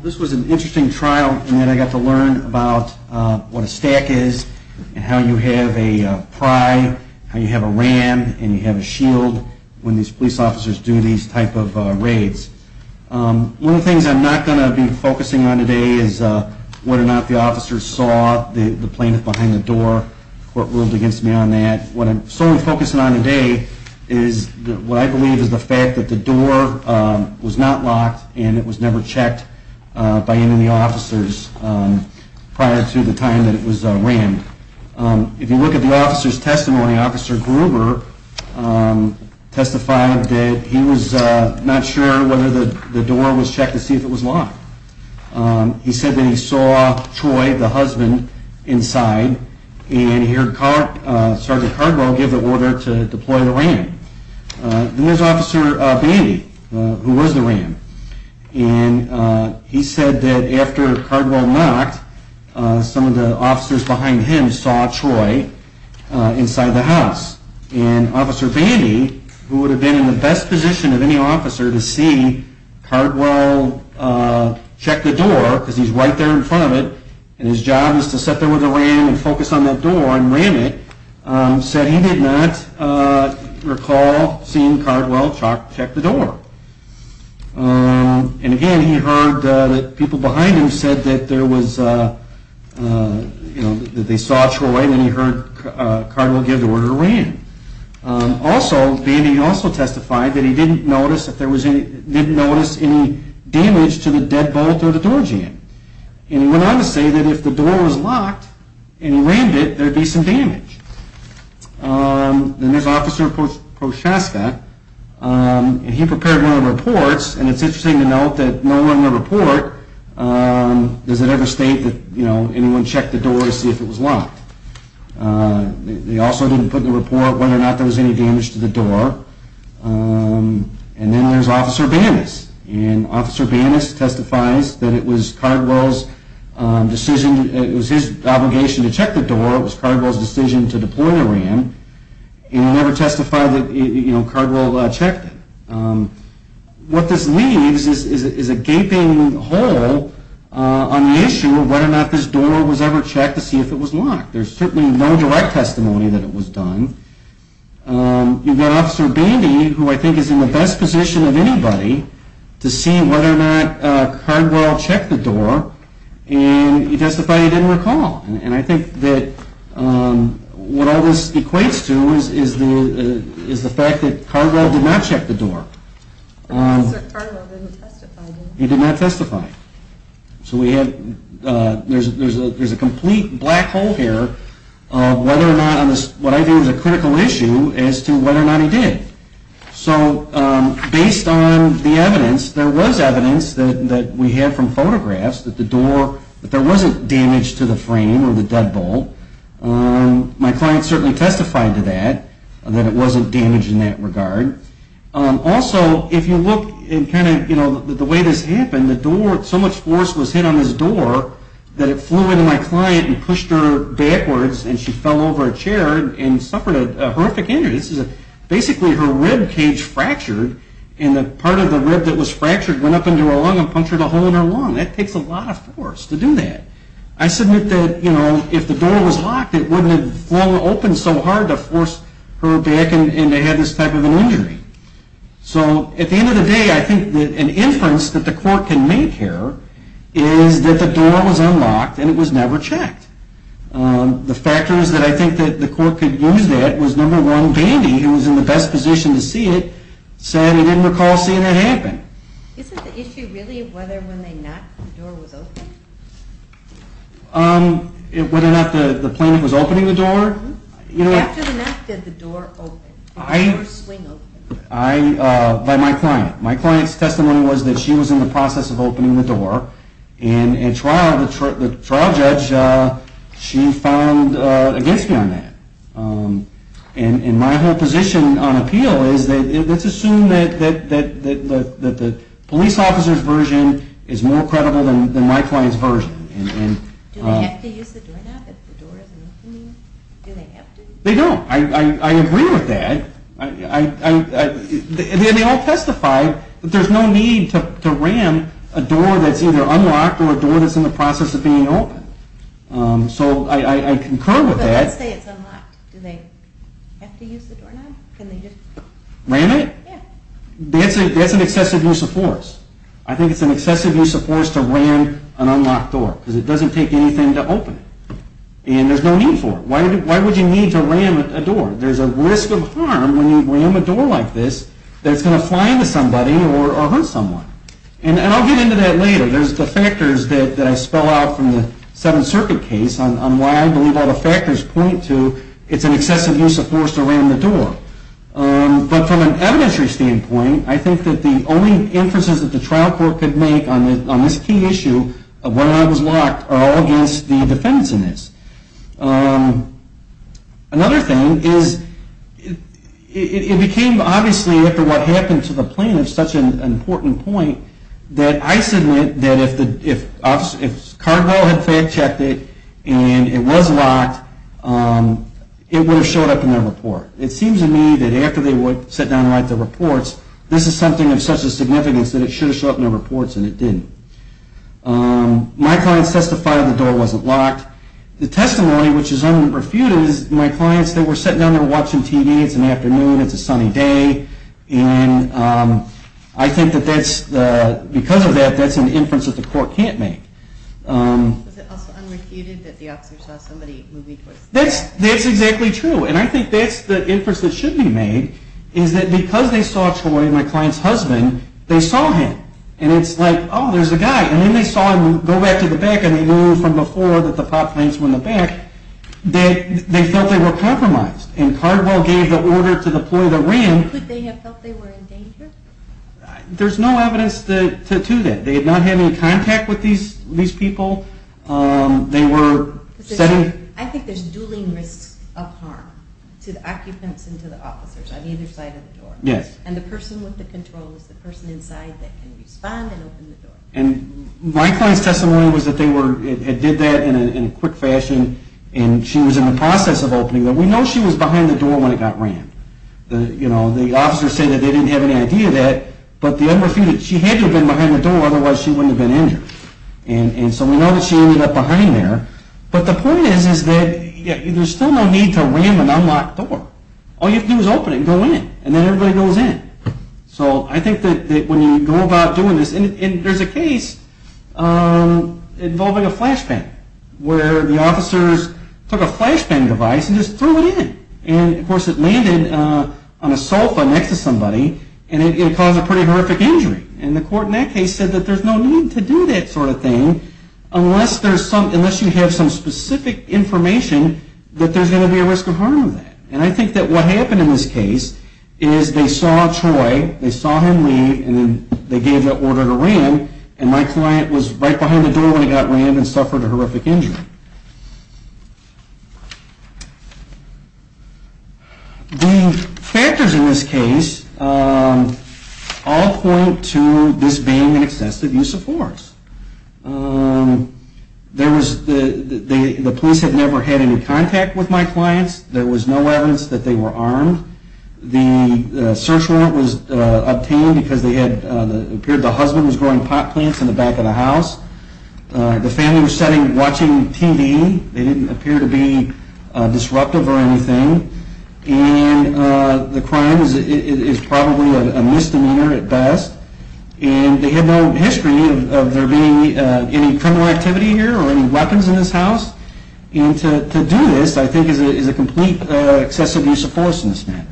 This was an interesting trial in that I got to learn about what a stack is and how you can use officers to do these types of raids. One of the things I'm not going to be focusing on today is whether or not the officers saw the plaintiff behind the door. The court ruled against me on that. What I'm solely focusing on today is what I believe is the fact that the door was not locked and it was never checked by any officers prior to the time that it was rammed. If you look at the officer's testimony, Officer Gruber testified that he was not sure whether the door was checked to see if it was locked. He said that he saw Troy, the husband, inside and he heard Sergeant Cardwell give the order to deploy the ram. Then there's Officer Bandy, who was the ram, and he said that after Cardwell knocked, some of the officers behind him saw Troy inside the house. And Officer Bandy, who would have been in the best position of any officer to see Cardwell check the door, because he's right there in front of it and his job is to sit there with the ram and focus on that door and ram it, said he did not recall seeing Cardwell check the door. And again, he heard that people behind him said that they saw Troy and he heard Cardwell give the order to ram. Also, Bandy also testified that he didn't notice any damage to the dead bolt or the door jamb. And he went on to say that if the door was locked and he rammed it, there would be some damage. Then there's Officer Prochaska, and he prepared one of the reports, and it's interesting to note that nowhere in the report does it ever state that anyone checked the door to see if it was locked. They also didn't put in the report whether or not there was any damage to the door. And then there's Officer Bandis. And Officer Bandis testifies that it was Cardwell's decision, it was his obligation to check the door, it was Cardwell's decision to deploy the ram, and it never testified that Cardwell checked it. What this leaves is a gaping hole on the issue of whether or not this door was ever checked to see if it was locked. There's certainly no direct testimony that it was done. You've got Officer Bandy, who I think is in the best position of anybody, to see whether or not Cardwell checked the door, and he testified he didn't recall. And I think that what all this equates to is the fact that Cardwell did not check the door. Cardwell didn't testify, did he? He did not testify. So there's a complete black hole here of whether or not what I view as a critical issue as to whether or not he did. So based on the evidence, there was evidence that we have from photographs that the door, that there wasn't damage to the frame or the deadbolt. My client certainly testified to that, that it wasn't damaged in that regard. Also, if you look at kind of the way this happened, the door, so much force was hit on this door that it flew into my client and pushed her backwards, and she fell over a chair and suffered a horrific injury. Basically, her rib cage fractured, and the part of the rib that was fractured went up into her lung and punctured a hole in her lung. That takes a lot of force to do that. I submit that, you know, if the door was locked, it wouldn't have flown open so hard to force her back and to have this type of an injury. So at the end of the day, I think that an inference that the court can make here is that the door was unlocked and it was never checked. The factors that I think that the court could use that was, number one, Bandy, who was in the best position to see it, said he didn't recall seeing it happen. Isn't the issue really whether when they knocked, the door was open? Whether or not the plaintiff was opening the door? After the knock, did the door open? By my client. My client's testimony was that she was in the process of opening the door, and in trial, the trial judge, she found against me on that. And my whole position on appeal is that let's assume that the police officer's version is more credible than my client's version. Do they have to use the doorknob if the door isn't opening? Do they have to? They don't. I agree with that. They all testified that there's no need to ram a door that's either unlocked or a door that's in the process of being opened. So I concur with that. But let's say it's unlocked. Do they have to use the doorknob? Ram it? Yeah. That's an excessive use of force. I think it's an excessive use of force to ram an unlocked door because it doesn't take anything to open it. And there's no need for it. Why would you need to ram a door? There's a risk of harm when you ram a door like this that it's going to fly into somebody or hurt someone. And I'll get into that later. There's the factors that I spell out from the Seventh Circuit case on why I believe all the factors point to it's an excessive use of force to ram the door. But from an evidentiary standpoint, I think that the only inferences that the trial court could make on this key issue of why it was locked are all against the defendants in this. Another thing is it became, obviously, after what happened to the plaintiff, such an important point that I submit that if Cardinal had fact-checked it and it was locked, it would have showed up in their report. It seems to me that after they sat down and wrote their reports, this is something of such a significance that it should have shown up in their reports and it didn't. My clients testified that the door wasn't locked. The testimony, which is unrefuted, is my clients that were sitting down there watching TV. It's an afternoon. It's a sunny day. And I think that because of that, that's an inference that the court can't make. Is it also unrefuted that the officer saw somebody moving towards the door? That's exactly true. And I think that's the inference that should be made is that because they saw a toy in my client's husband, they saw him. And it's like, oh, there's a guy. And then they saw him go back to the back and they knew from before that the pot plants were in the back. They felt they were compromised. And Cardinal gave the order to deploy the ram. Could they have felt they were in danger? There's no evidence to that. They had not had any contact with these people. I think there's dueling risks of harm to the occupants and to the officers on either side of the door. Yes. And the person with the control is the person inside that can respond and open the door. And my client's testimony was that they did that in a quick fashion. And she was in the process of opening the door. We know she was behind the door when it got rammed. The officers said that they didn't have any idea of that. But she had to have been behind the door. Otherwise, she wouldn't have been injured. And so we know that she ended up behind there. But the point is that there's still no need to ram an unlocked door. All you have to do is open it and go in. And then everybody goes in. So I think that when you go about doing this, and there's a case involving a flashbang, where the officers took a flashbang device and just threw it in. And, of course, it landed on a sofa next to somebody, and it caused a pretty horrific injury. And the court in that case said that there's no need to do that sort of thing unless you have some specific information that there's going to be a risk of harm with that. And I think that what happened in this case is they saw Troy, they saw him leave, and then they gave the order to ram. And my client was right behind the door when he got rammed and suffered a horrific injury. The factors in this case all point to this being an excessive use of force. The police had never had any contact with my clients. There was no evidence that they were armed. The search warrant was obtained because it appeared the husband was growing pot plants in the back of the house. The family was sitting watching TV. They didn't appear to be disruptive or anything. And the crime is probably a misdemeanor at best. And they had no history of there being any criminal activity here or any weapons in this house. And to do this, I think, is a complete excessive use of force in this matter.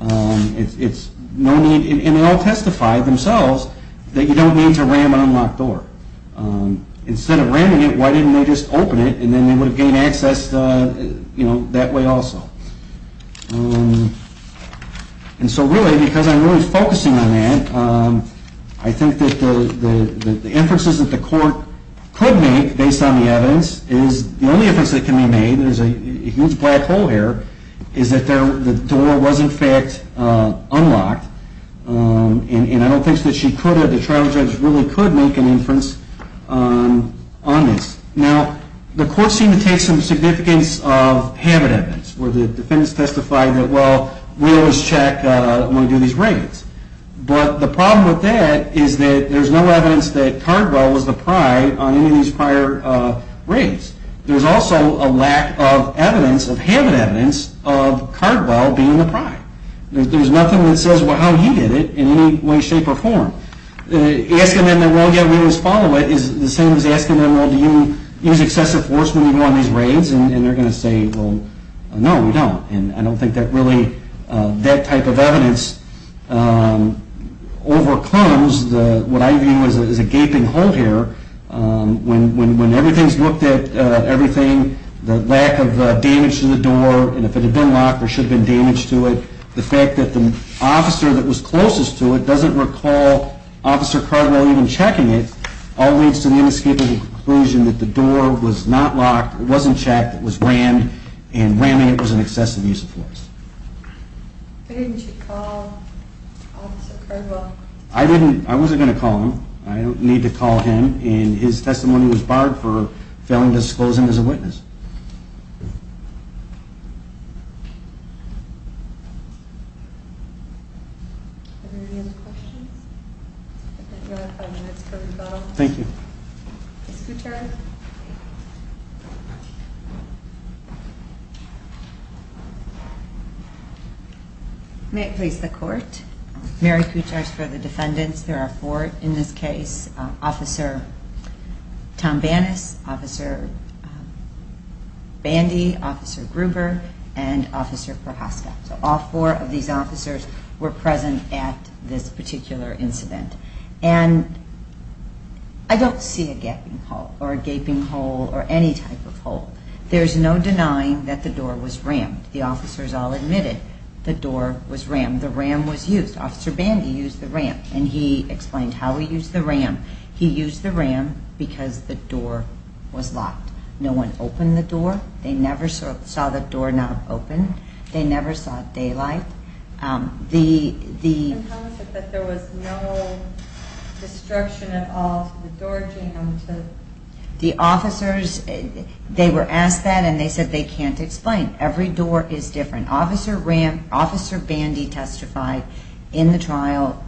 And they all testified themselves that you don't need to ram an unlocked door. Instead of ramming it, why didn't they just open it and then they would have gained access that way also. And so really, because I'm really focusing on that, I think that the inferences that the court could make based on the evidence is, the only inference that can be made, there's a huge black hole here, is that the door was in fact unlocked. And I don't think that she could have, the trial judge really could make an inference on this. Now, the court seemed to take some significance of habit evidence, where the defendants testified that, well, we always check when we do these raids. But the problem with that is that there's no evidence that Cardwell was the pride on any of these prior raids. There's also a lack of evidence, of habit evidence, of Cardwell being the pride. There's nothing that says how he did it in any way, shape, or form. Asking them, well, yeah, we always follow it, is the same as asking them, well, do you use excessive force when you go on these raids? And they're going to say, well, no, we don't. And I don't think that really, that type of evidence overcomes what I view as a gaping hole here. When everything's looked at, everything, the lack of damage to the door, and if it had been locked, there should have been damage to it. The fact that the officer that was closest to it doesn't recall Officer Cardwell even checking it, all leads to the inescapable conclusion that the door was not locked, it wasn't checked, it was rammed, and ramming it was an excessive use of force. Why didn't you call Officer Cardwell? I didn't, I wasn't going to call him. I don't need to call him, and his testimony was barred for failing to disclose him as a witness. Are there any other questions? I think we have five minutes for rebuttal. Thank you. Ms. Kuchar? May it please the Court, Mary Kuchar is for the defendants. There are four in this case, Officer Tom Bannis, Officer Bandy, Officer Gruber, and Officer Prochaska. So all four of these officers were present at this particular incident. And I don't see a gaping hole, or a gaping hole, or any type of hole. There's no denying that the door was rammed. The officers all admitted the door was rammed. The ram was used. Officer Bandy used the ram, and he explained how he used the ram. He used the ram because the door was locked. No one opened the door. They never saw the door not open. They never saw daylight. And how is it that there was no destruction at all to the door jam? The officers, they were asked that, and they said they can't explain. Every door is different. Officer Bandy testified in the trial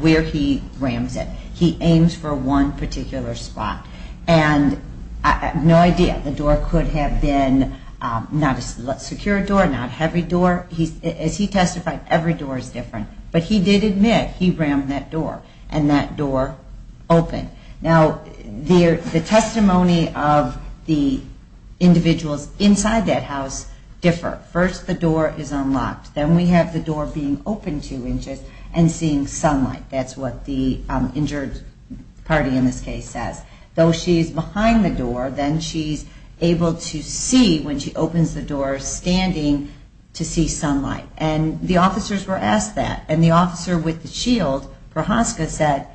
where he rams it. He aims for one particular spot. And I have no idea. The door could have been not a secure door, not a heavy door. As he testified, every door is different. But he did admit he rammed that door, and that door opened. Now, the testimony of the individuals inside that house differ. First, the door is unlocked. Then we have the door being opened two inches and seeing sunlight. That's what the injured party in this case says. Though she's behind the door, then she's able to see when she opens the door, standing to see sunlight. And the officers were asked that. And the officer with the shield, Prochaska, said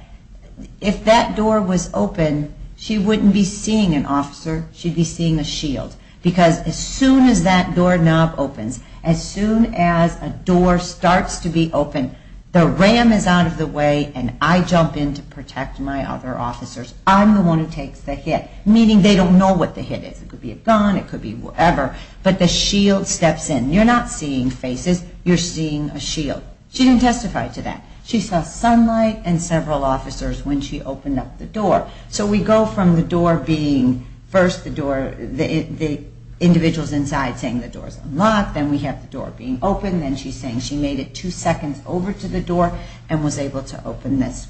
if that door was open, she wouldn't be seeing an officer. She'd be seeing a shield. Because as soon as that door knob opens, as soon as a door starts to be open, the ram is out of the way, and I jump in to protect my other officers. I'm the one who takes the hit, meaning they don't know what the hit is. It could be a gun. It could be whatever. But the shield steps in. You're not seeing faces. You're seeing a shield. She didn't testify to that. She saw sunlight and several officers when she opened up the door. So we go from the door being first the door, the individuals inside saying the door's unlocked, then we have the door being opened, then she's saying she made it two seconds over to the door and was able to open this.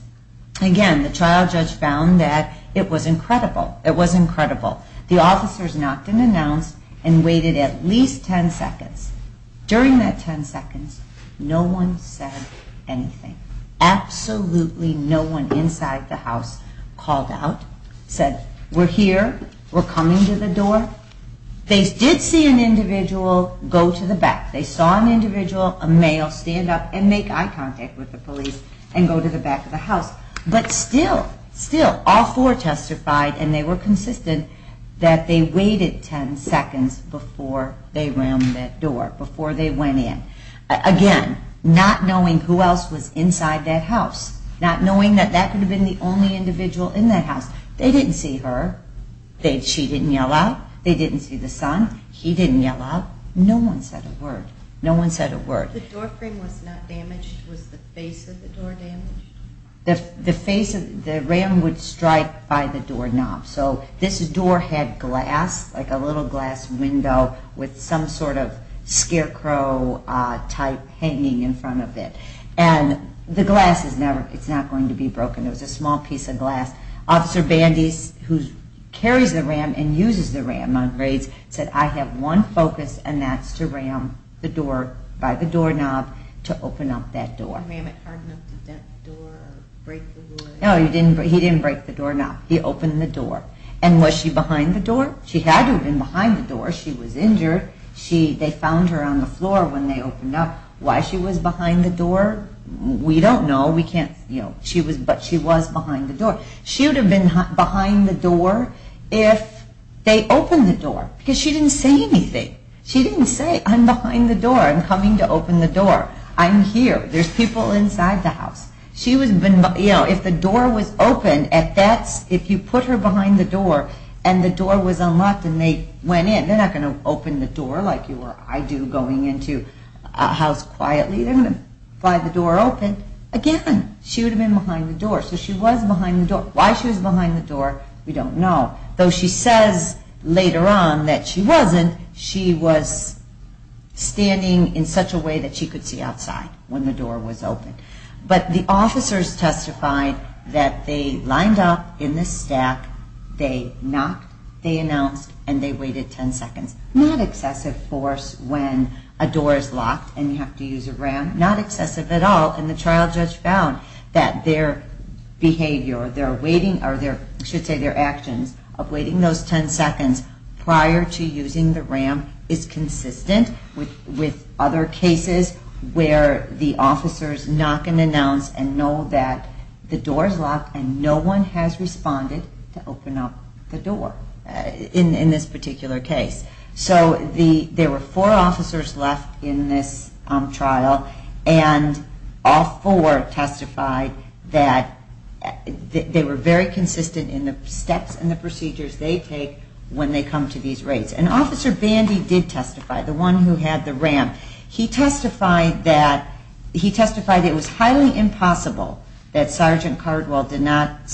Again, the trial judge found that it was incredible. It was incredible. The officers knocked and announced and waited at least ten seconds. During that ten seconds, no one said anything. Absolutely no one inside the house called out, said, we're here, we're coming to the door. They did see an individual go to the back. They saw an individual, a male, stand up and make eye contact with the police and go to the back of the house. But still, still, all four testified and they were consistent that they waited ten seconds before they rammed that door, before they went in. Again, not knowing who else was inside that house, not knowing that that could have been the only individual in that house. They didn't see her. She didn't yell out. They didn't see the son. No one said a word. No one said a word. The door frame was not damaged. Was the face of the door damaged? The ram would strike by the door knob. So this door had glass, like a little glass window, with some sort of scarecrow type hanging in front of it. And the glass is not going to be broken. It was a small piece of glass. Officer Bandy, who carries the ram and uses the ram on raids, said, I have one focus and that's to ram the door by the door knob to open up that door. The ram, it hardened up the door or break the wood? No, he didn't break the door knob. He opened the door. And was she behind the door? She hadn't been behind the door. She was injured. They found her on the floor when they opened up. Why she was behind the door, we don't know. We can't, you know. But she was behind the door. She would have been behind the door if they opened the door. Because she didn't say anything. She didn't say, I'm behind the door. I'm coming to open the door. I'm here. There's people inside the house. If the door was open, if you put her behind the door and the door was unlocked and they went in, they're not going to open the door like you or I do going into a house quietly. They're going to pry the door open again. She would have been behind the door. So she was behind the door. Why she was behind the door, we don't know. Though she says later on that she wasn't, she was standing in such a way that she could see outside when the door was open. But the officers testified that they lined up in the stack, they knocked, they announced, and they waited 10 seconds. Not excessive force when a door is locked and you have to use a ram. Not excessive at all. And the trial judge found that their behavior, or I should say their actions of waiting those 10 seconds prior to using the ram is consistent with other cases where the officers knock and announce and know that the door is locked and no one has responded to open up the door in this particular case. So there were four officers left in this trial, and all four testified that they were very consistent in the steps and the procedures they take when they come to these raids. And Officer Bandy did testify, the one who had the ram. He testified that it was highly impossible that Sergeant Cardwell did not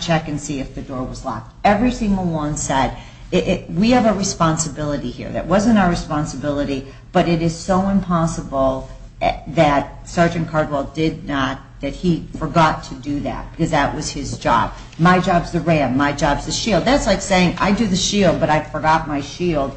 check and see if the door was locked. Every single one said, we have a responsibility here. That wasn't our responsibility, but it is so impossible that Sergeant Cardwell did not, that he forgot to do that because that was his job. My job is the ram. My job is the shield. That's like saying, I do the shield, but I forgot my shield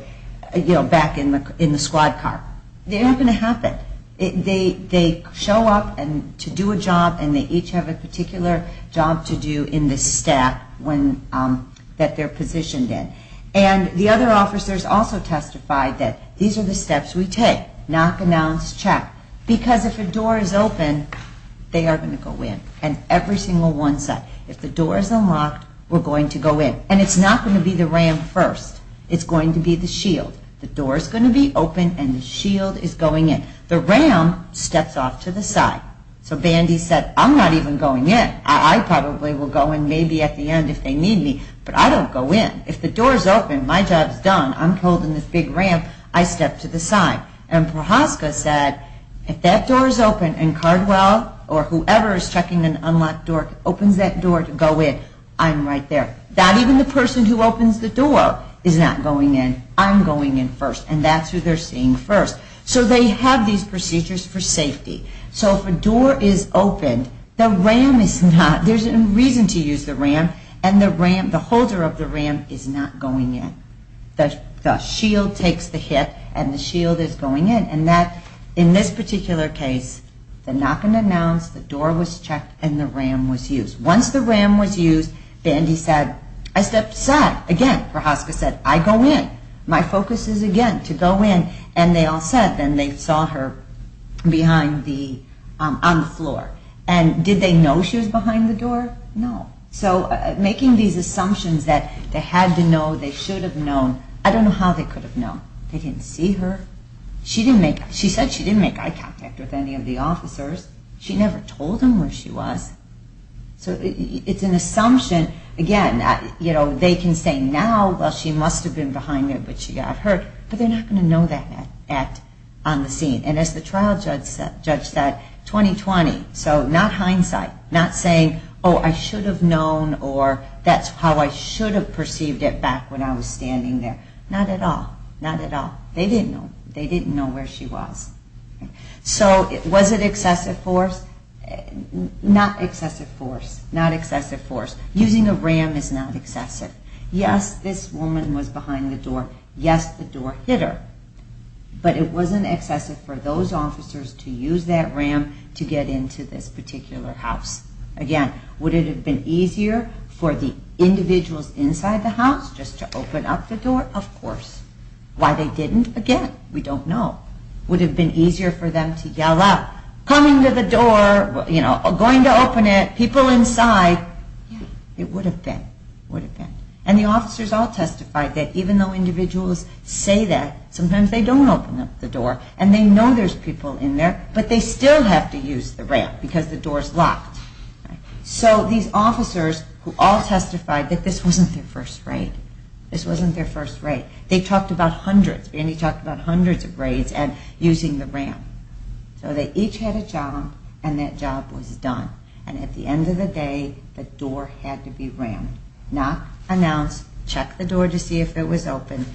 back in the squad car. They're not going to happen. They show up to do a job, and they each have a particular job to do in the stack that they're positioned in. And the other officers also testified that these are the steps we take. Knock, announce, check. Because if a door is open, they are going to go in. And every single one said, if the door is unlocked, we're going to go in. And it's not going to be the ram first. It's going to be the shield. The door is going to be open, and the shield is going in. The ram steps off to the side. So Bandy said, I'm not even going in. I probably will go in maybe at the end if they need me, but I don't go in. If the door is open, my job is done. I'm holding this big ram. I step to the side. And Prochaska said, if that door is open and Cardwell or whoever is checking an unlocked door opens that door to go in, I'm right there. Not even the person who opens the door is not going in. I'm going in first, and that's who they're seeing first. So they have these procedures for safety. So if a door is open, the ram is not. There's a reason to use the ram. And the ram, the holder of the ram is not going in. The shield takes the hit, and the shield is going in. And that, in this particular case, the knock and announce, the door was checked, and the ram was used. Once the ram was used, Bandy said, I step to the side. Again, Prochaska said, I go in. My focus is, again, to go in. And they all said, then they saw her behind the, on the floor. And did they know she was behind the door? No. So making these assumptions that they had to know, they should have known, I don't know how they could have known. They didn't see her. She said she didn't make eye contact with any of the officers. She never told them where she was. So it's an assumption. Again, they can say now, well, she must have been behind there, but she got hurt. But they're not going to know that on the scene. And as the trial judge said, 2020. So not hindsight. Not saying, oh, I should have known, or that's how I should have perceived it back when I was standing there. Not at all. Not at all. They didn't know. They didn't know where she was. So was it excessive force? Not excessive force. Not excessive force. Using a ram is not excessive. Yes, this woman was behind the door. Yes, the door hit her. But it wasn't excessive for those officers to use that ram to get into this particular house. Again, would it have been easier for the individuals inside the house just to open up the door? Of course. Why they didn't? Again, we don't know. Would it have been easier for them to yell out, coming to the door, going to open it, people inside? It would have been. Would have been. And the officers all testified that even though individuals say that, sometimes they don't open up the door and they know there's people in there, but they still have to use the ram because the door is locked. So these officers who all testified that this wasn't their first raid, this wasn't their first raid. They talked about hundreds. Randy talked about hundreds of raids and using the ram. So they each had a job, and that job was done. And at the end of the day, the door had to be rammed. Not announce, check the door to see if it was open,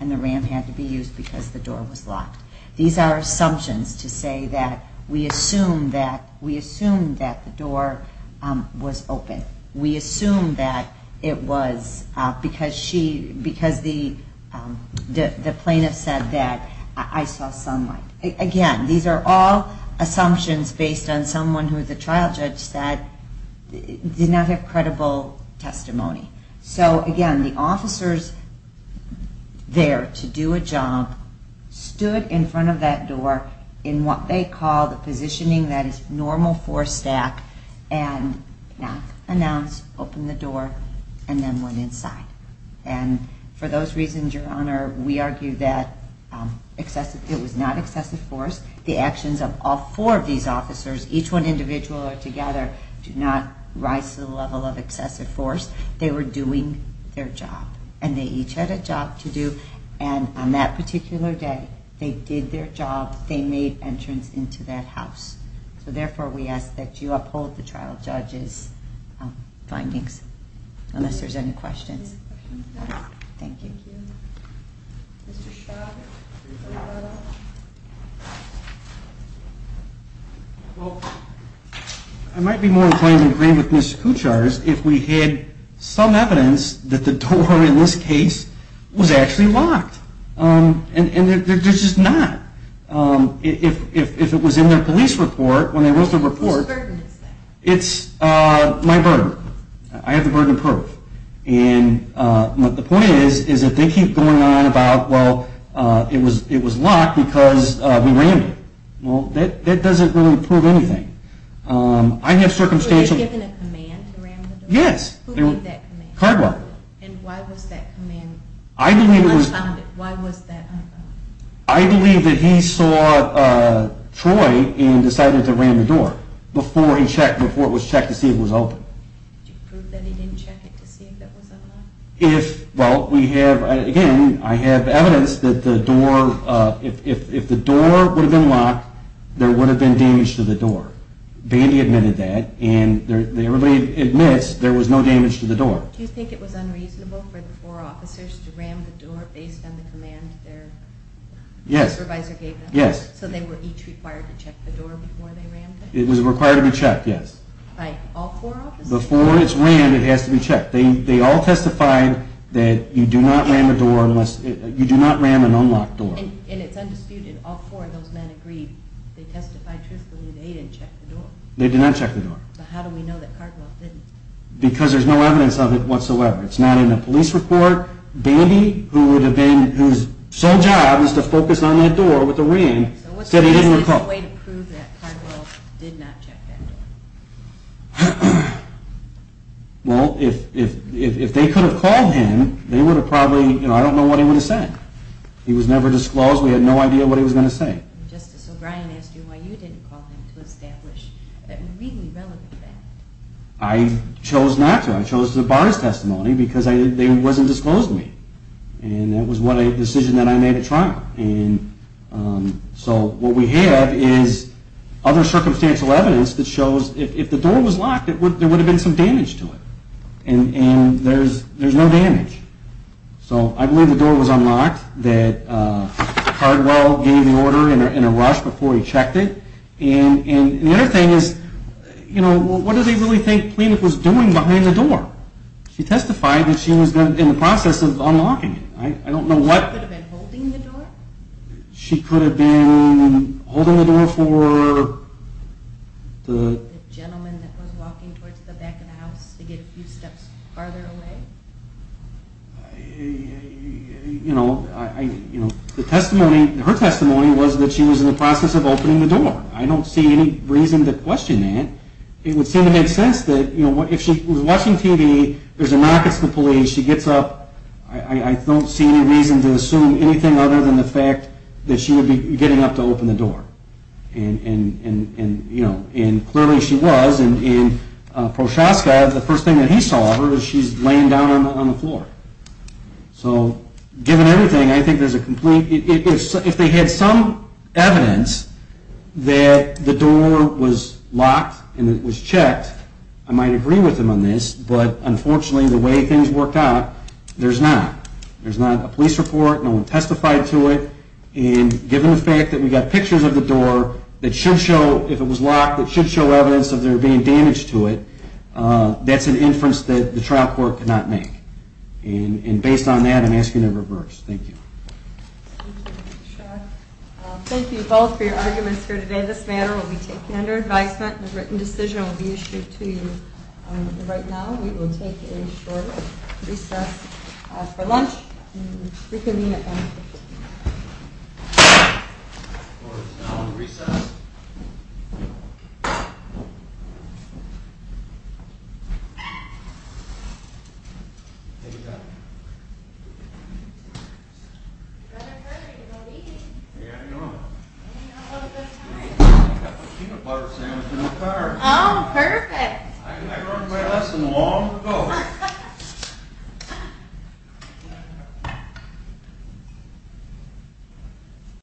and the ram had to be used because the door was locked. These are assumptions to say that we assumed that the door was open. We assumed that it was because the plaintiff said that I saw sunlight. Again, these are all assumptions based on someone who the trial judge said did not have credible testimony. So again, the officers there to do a job stood in front of that door in what they call the positioning that is normal for a staff, and not announce, open the door, and then went inside. And for those reasons, Your Honor, we argue that it was not excessive force. The actions of all four of these officers, each one individual or their job. And they each had a job to do, and on that particular day, they did their job. They made entrance into that house. So therefore, we ask that you uphold the trial judge's findings, unless there's any questions. Thank you. Well, I might be more inclined to agree with Ms. Kuchar's if we had some evidence that the door in this case was actually locked. And there's just not. If it was in their police report, when they wrote the report, it's my burden. I have the burden of proof. And the point is, is that they keep going on about, well, it was locked because we rammed it. Well, that doesn't really prove anything. Were they given a command to ram the door? Yes. Who gave that command? Cardwell. And why was that command unfounded? Why was that unfounded? I believe that he saw Troy and decided to ram the door before he checked, before it was checked to see if it was open. Did you prove that he didn't check it to see if it was unlocked? Well, again, I have evidence that if the door would have been locked, there would have been damage to the door. Bandy admitted that. And everybody admits there was no damage to the door. Do you think it was unreasonable for the four officers to ram the door based on the command their supervisor gave them? Yes. So they were each required to check the door before they rammed it? It was required to be checked, yes. By all four officers? Before it's rammed, it has to be checked. They all testified that you do not ram an unlocked door. And it's undisputed, all four of those men agreed. They testified truthfully that they didn't check the door. They did not check the door. But how do we know that Cardwell didn't? Because there's no evidence of it whatsoever. It's not in a police report. Bandy, whose sole job is to focus on that door with a ram, said he didn't recall. Is there a way to prove that Cardwell did not check that door? Well, if they could have called him, they would have probably, you know, I don't know what he would have said. He was never disclosed. We had no idea what he was going to say. Justice O'Brien asked you why you didn't call him to establish that really relevant fact. I chose not to. I chose to bar his testimony because they wasn't disclosing me. And it was a decision that I made at trial. And so what we have is other circumstantial evidence that shows if the door was locked, there would have been some damage to it. And there's no damage. So I believe the door was unlocked, that Cardwell gave the order in a rush before he checked it. And the other thing is, you know, what do they really think Pleniff was doing behind the door? She testified that she was in the process of unlocking it. I don't know what. She could have been holding the door? She could have been holding the door for the. The gentleman that was walking towards the back of the house to get a few steps farther away? You know, the testimony, her testimony, was that she was in the process of opening the door. I don't see any reason to question that. It would seem to make sense that, you know, if she was watching TV, there's a knock, it's the police, she gets up. I don't see any reason to assume anything other than the fact that she would be getting up to open the door. And, you know, and clearly she was. And Prochaska, the first thing that he saw of her, she's laying down on the floor. So given everything, I think there's a complete. If they had some evidence that the door was locked and it was checked, I might agree with them on this. But, unfortunately, the way things worked out, there's not. There's not a police report, no one testified to it. And given the fact that we got pictures of the door that should show, if it was locked, it should show evidence of there being damage to it, that's an inference that the trial court could not make. And based on that, I'm asking to reverse. Thank you. Thank you both for your arguments here today. This matter will be taken under advisement. The written decision will be issued to you right now. We will take a short recess for lunch. Reconvene at lunch. Oh, perfect. I learned my lesson long ago. Thank you.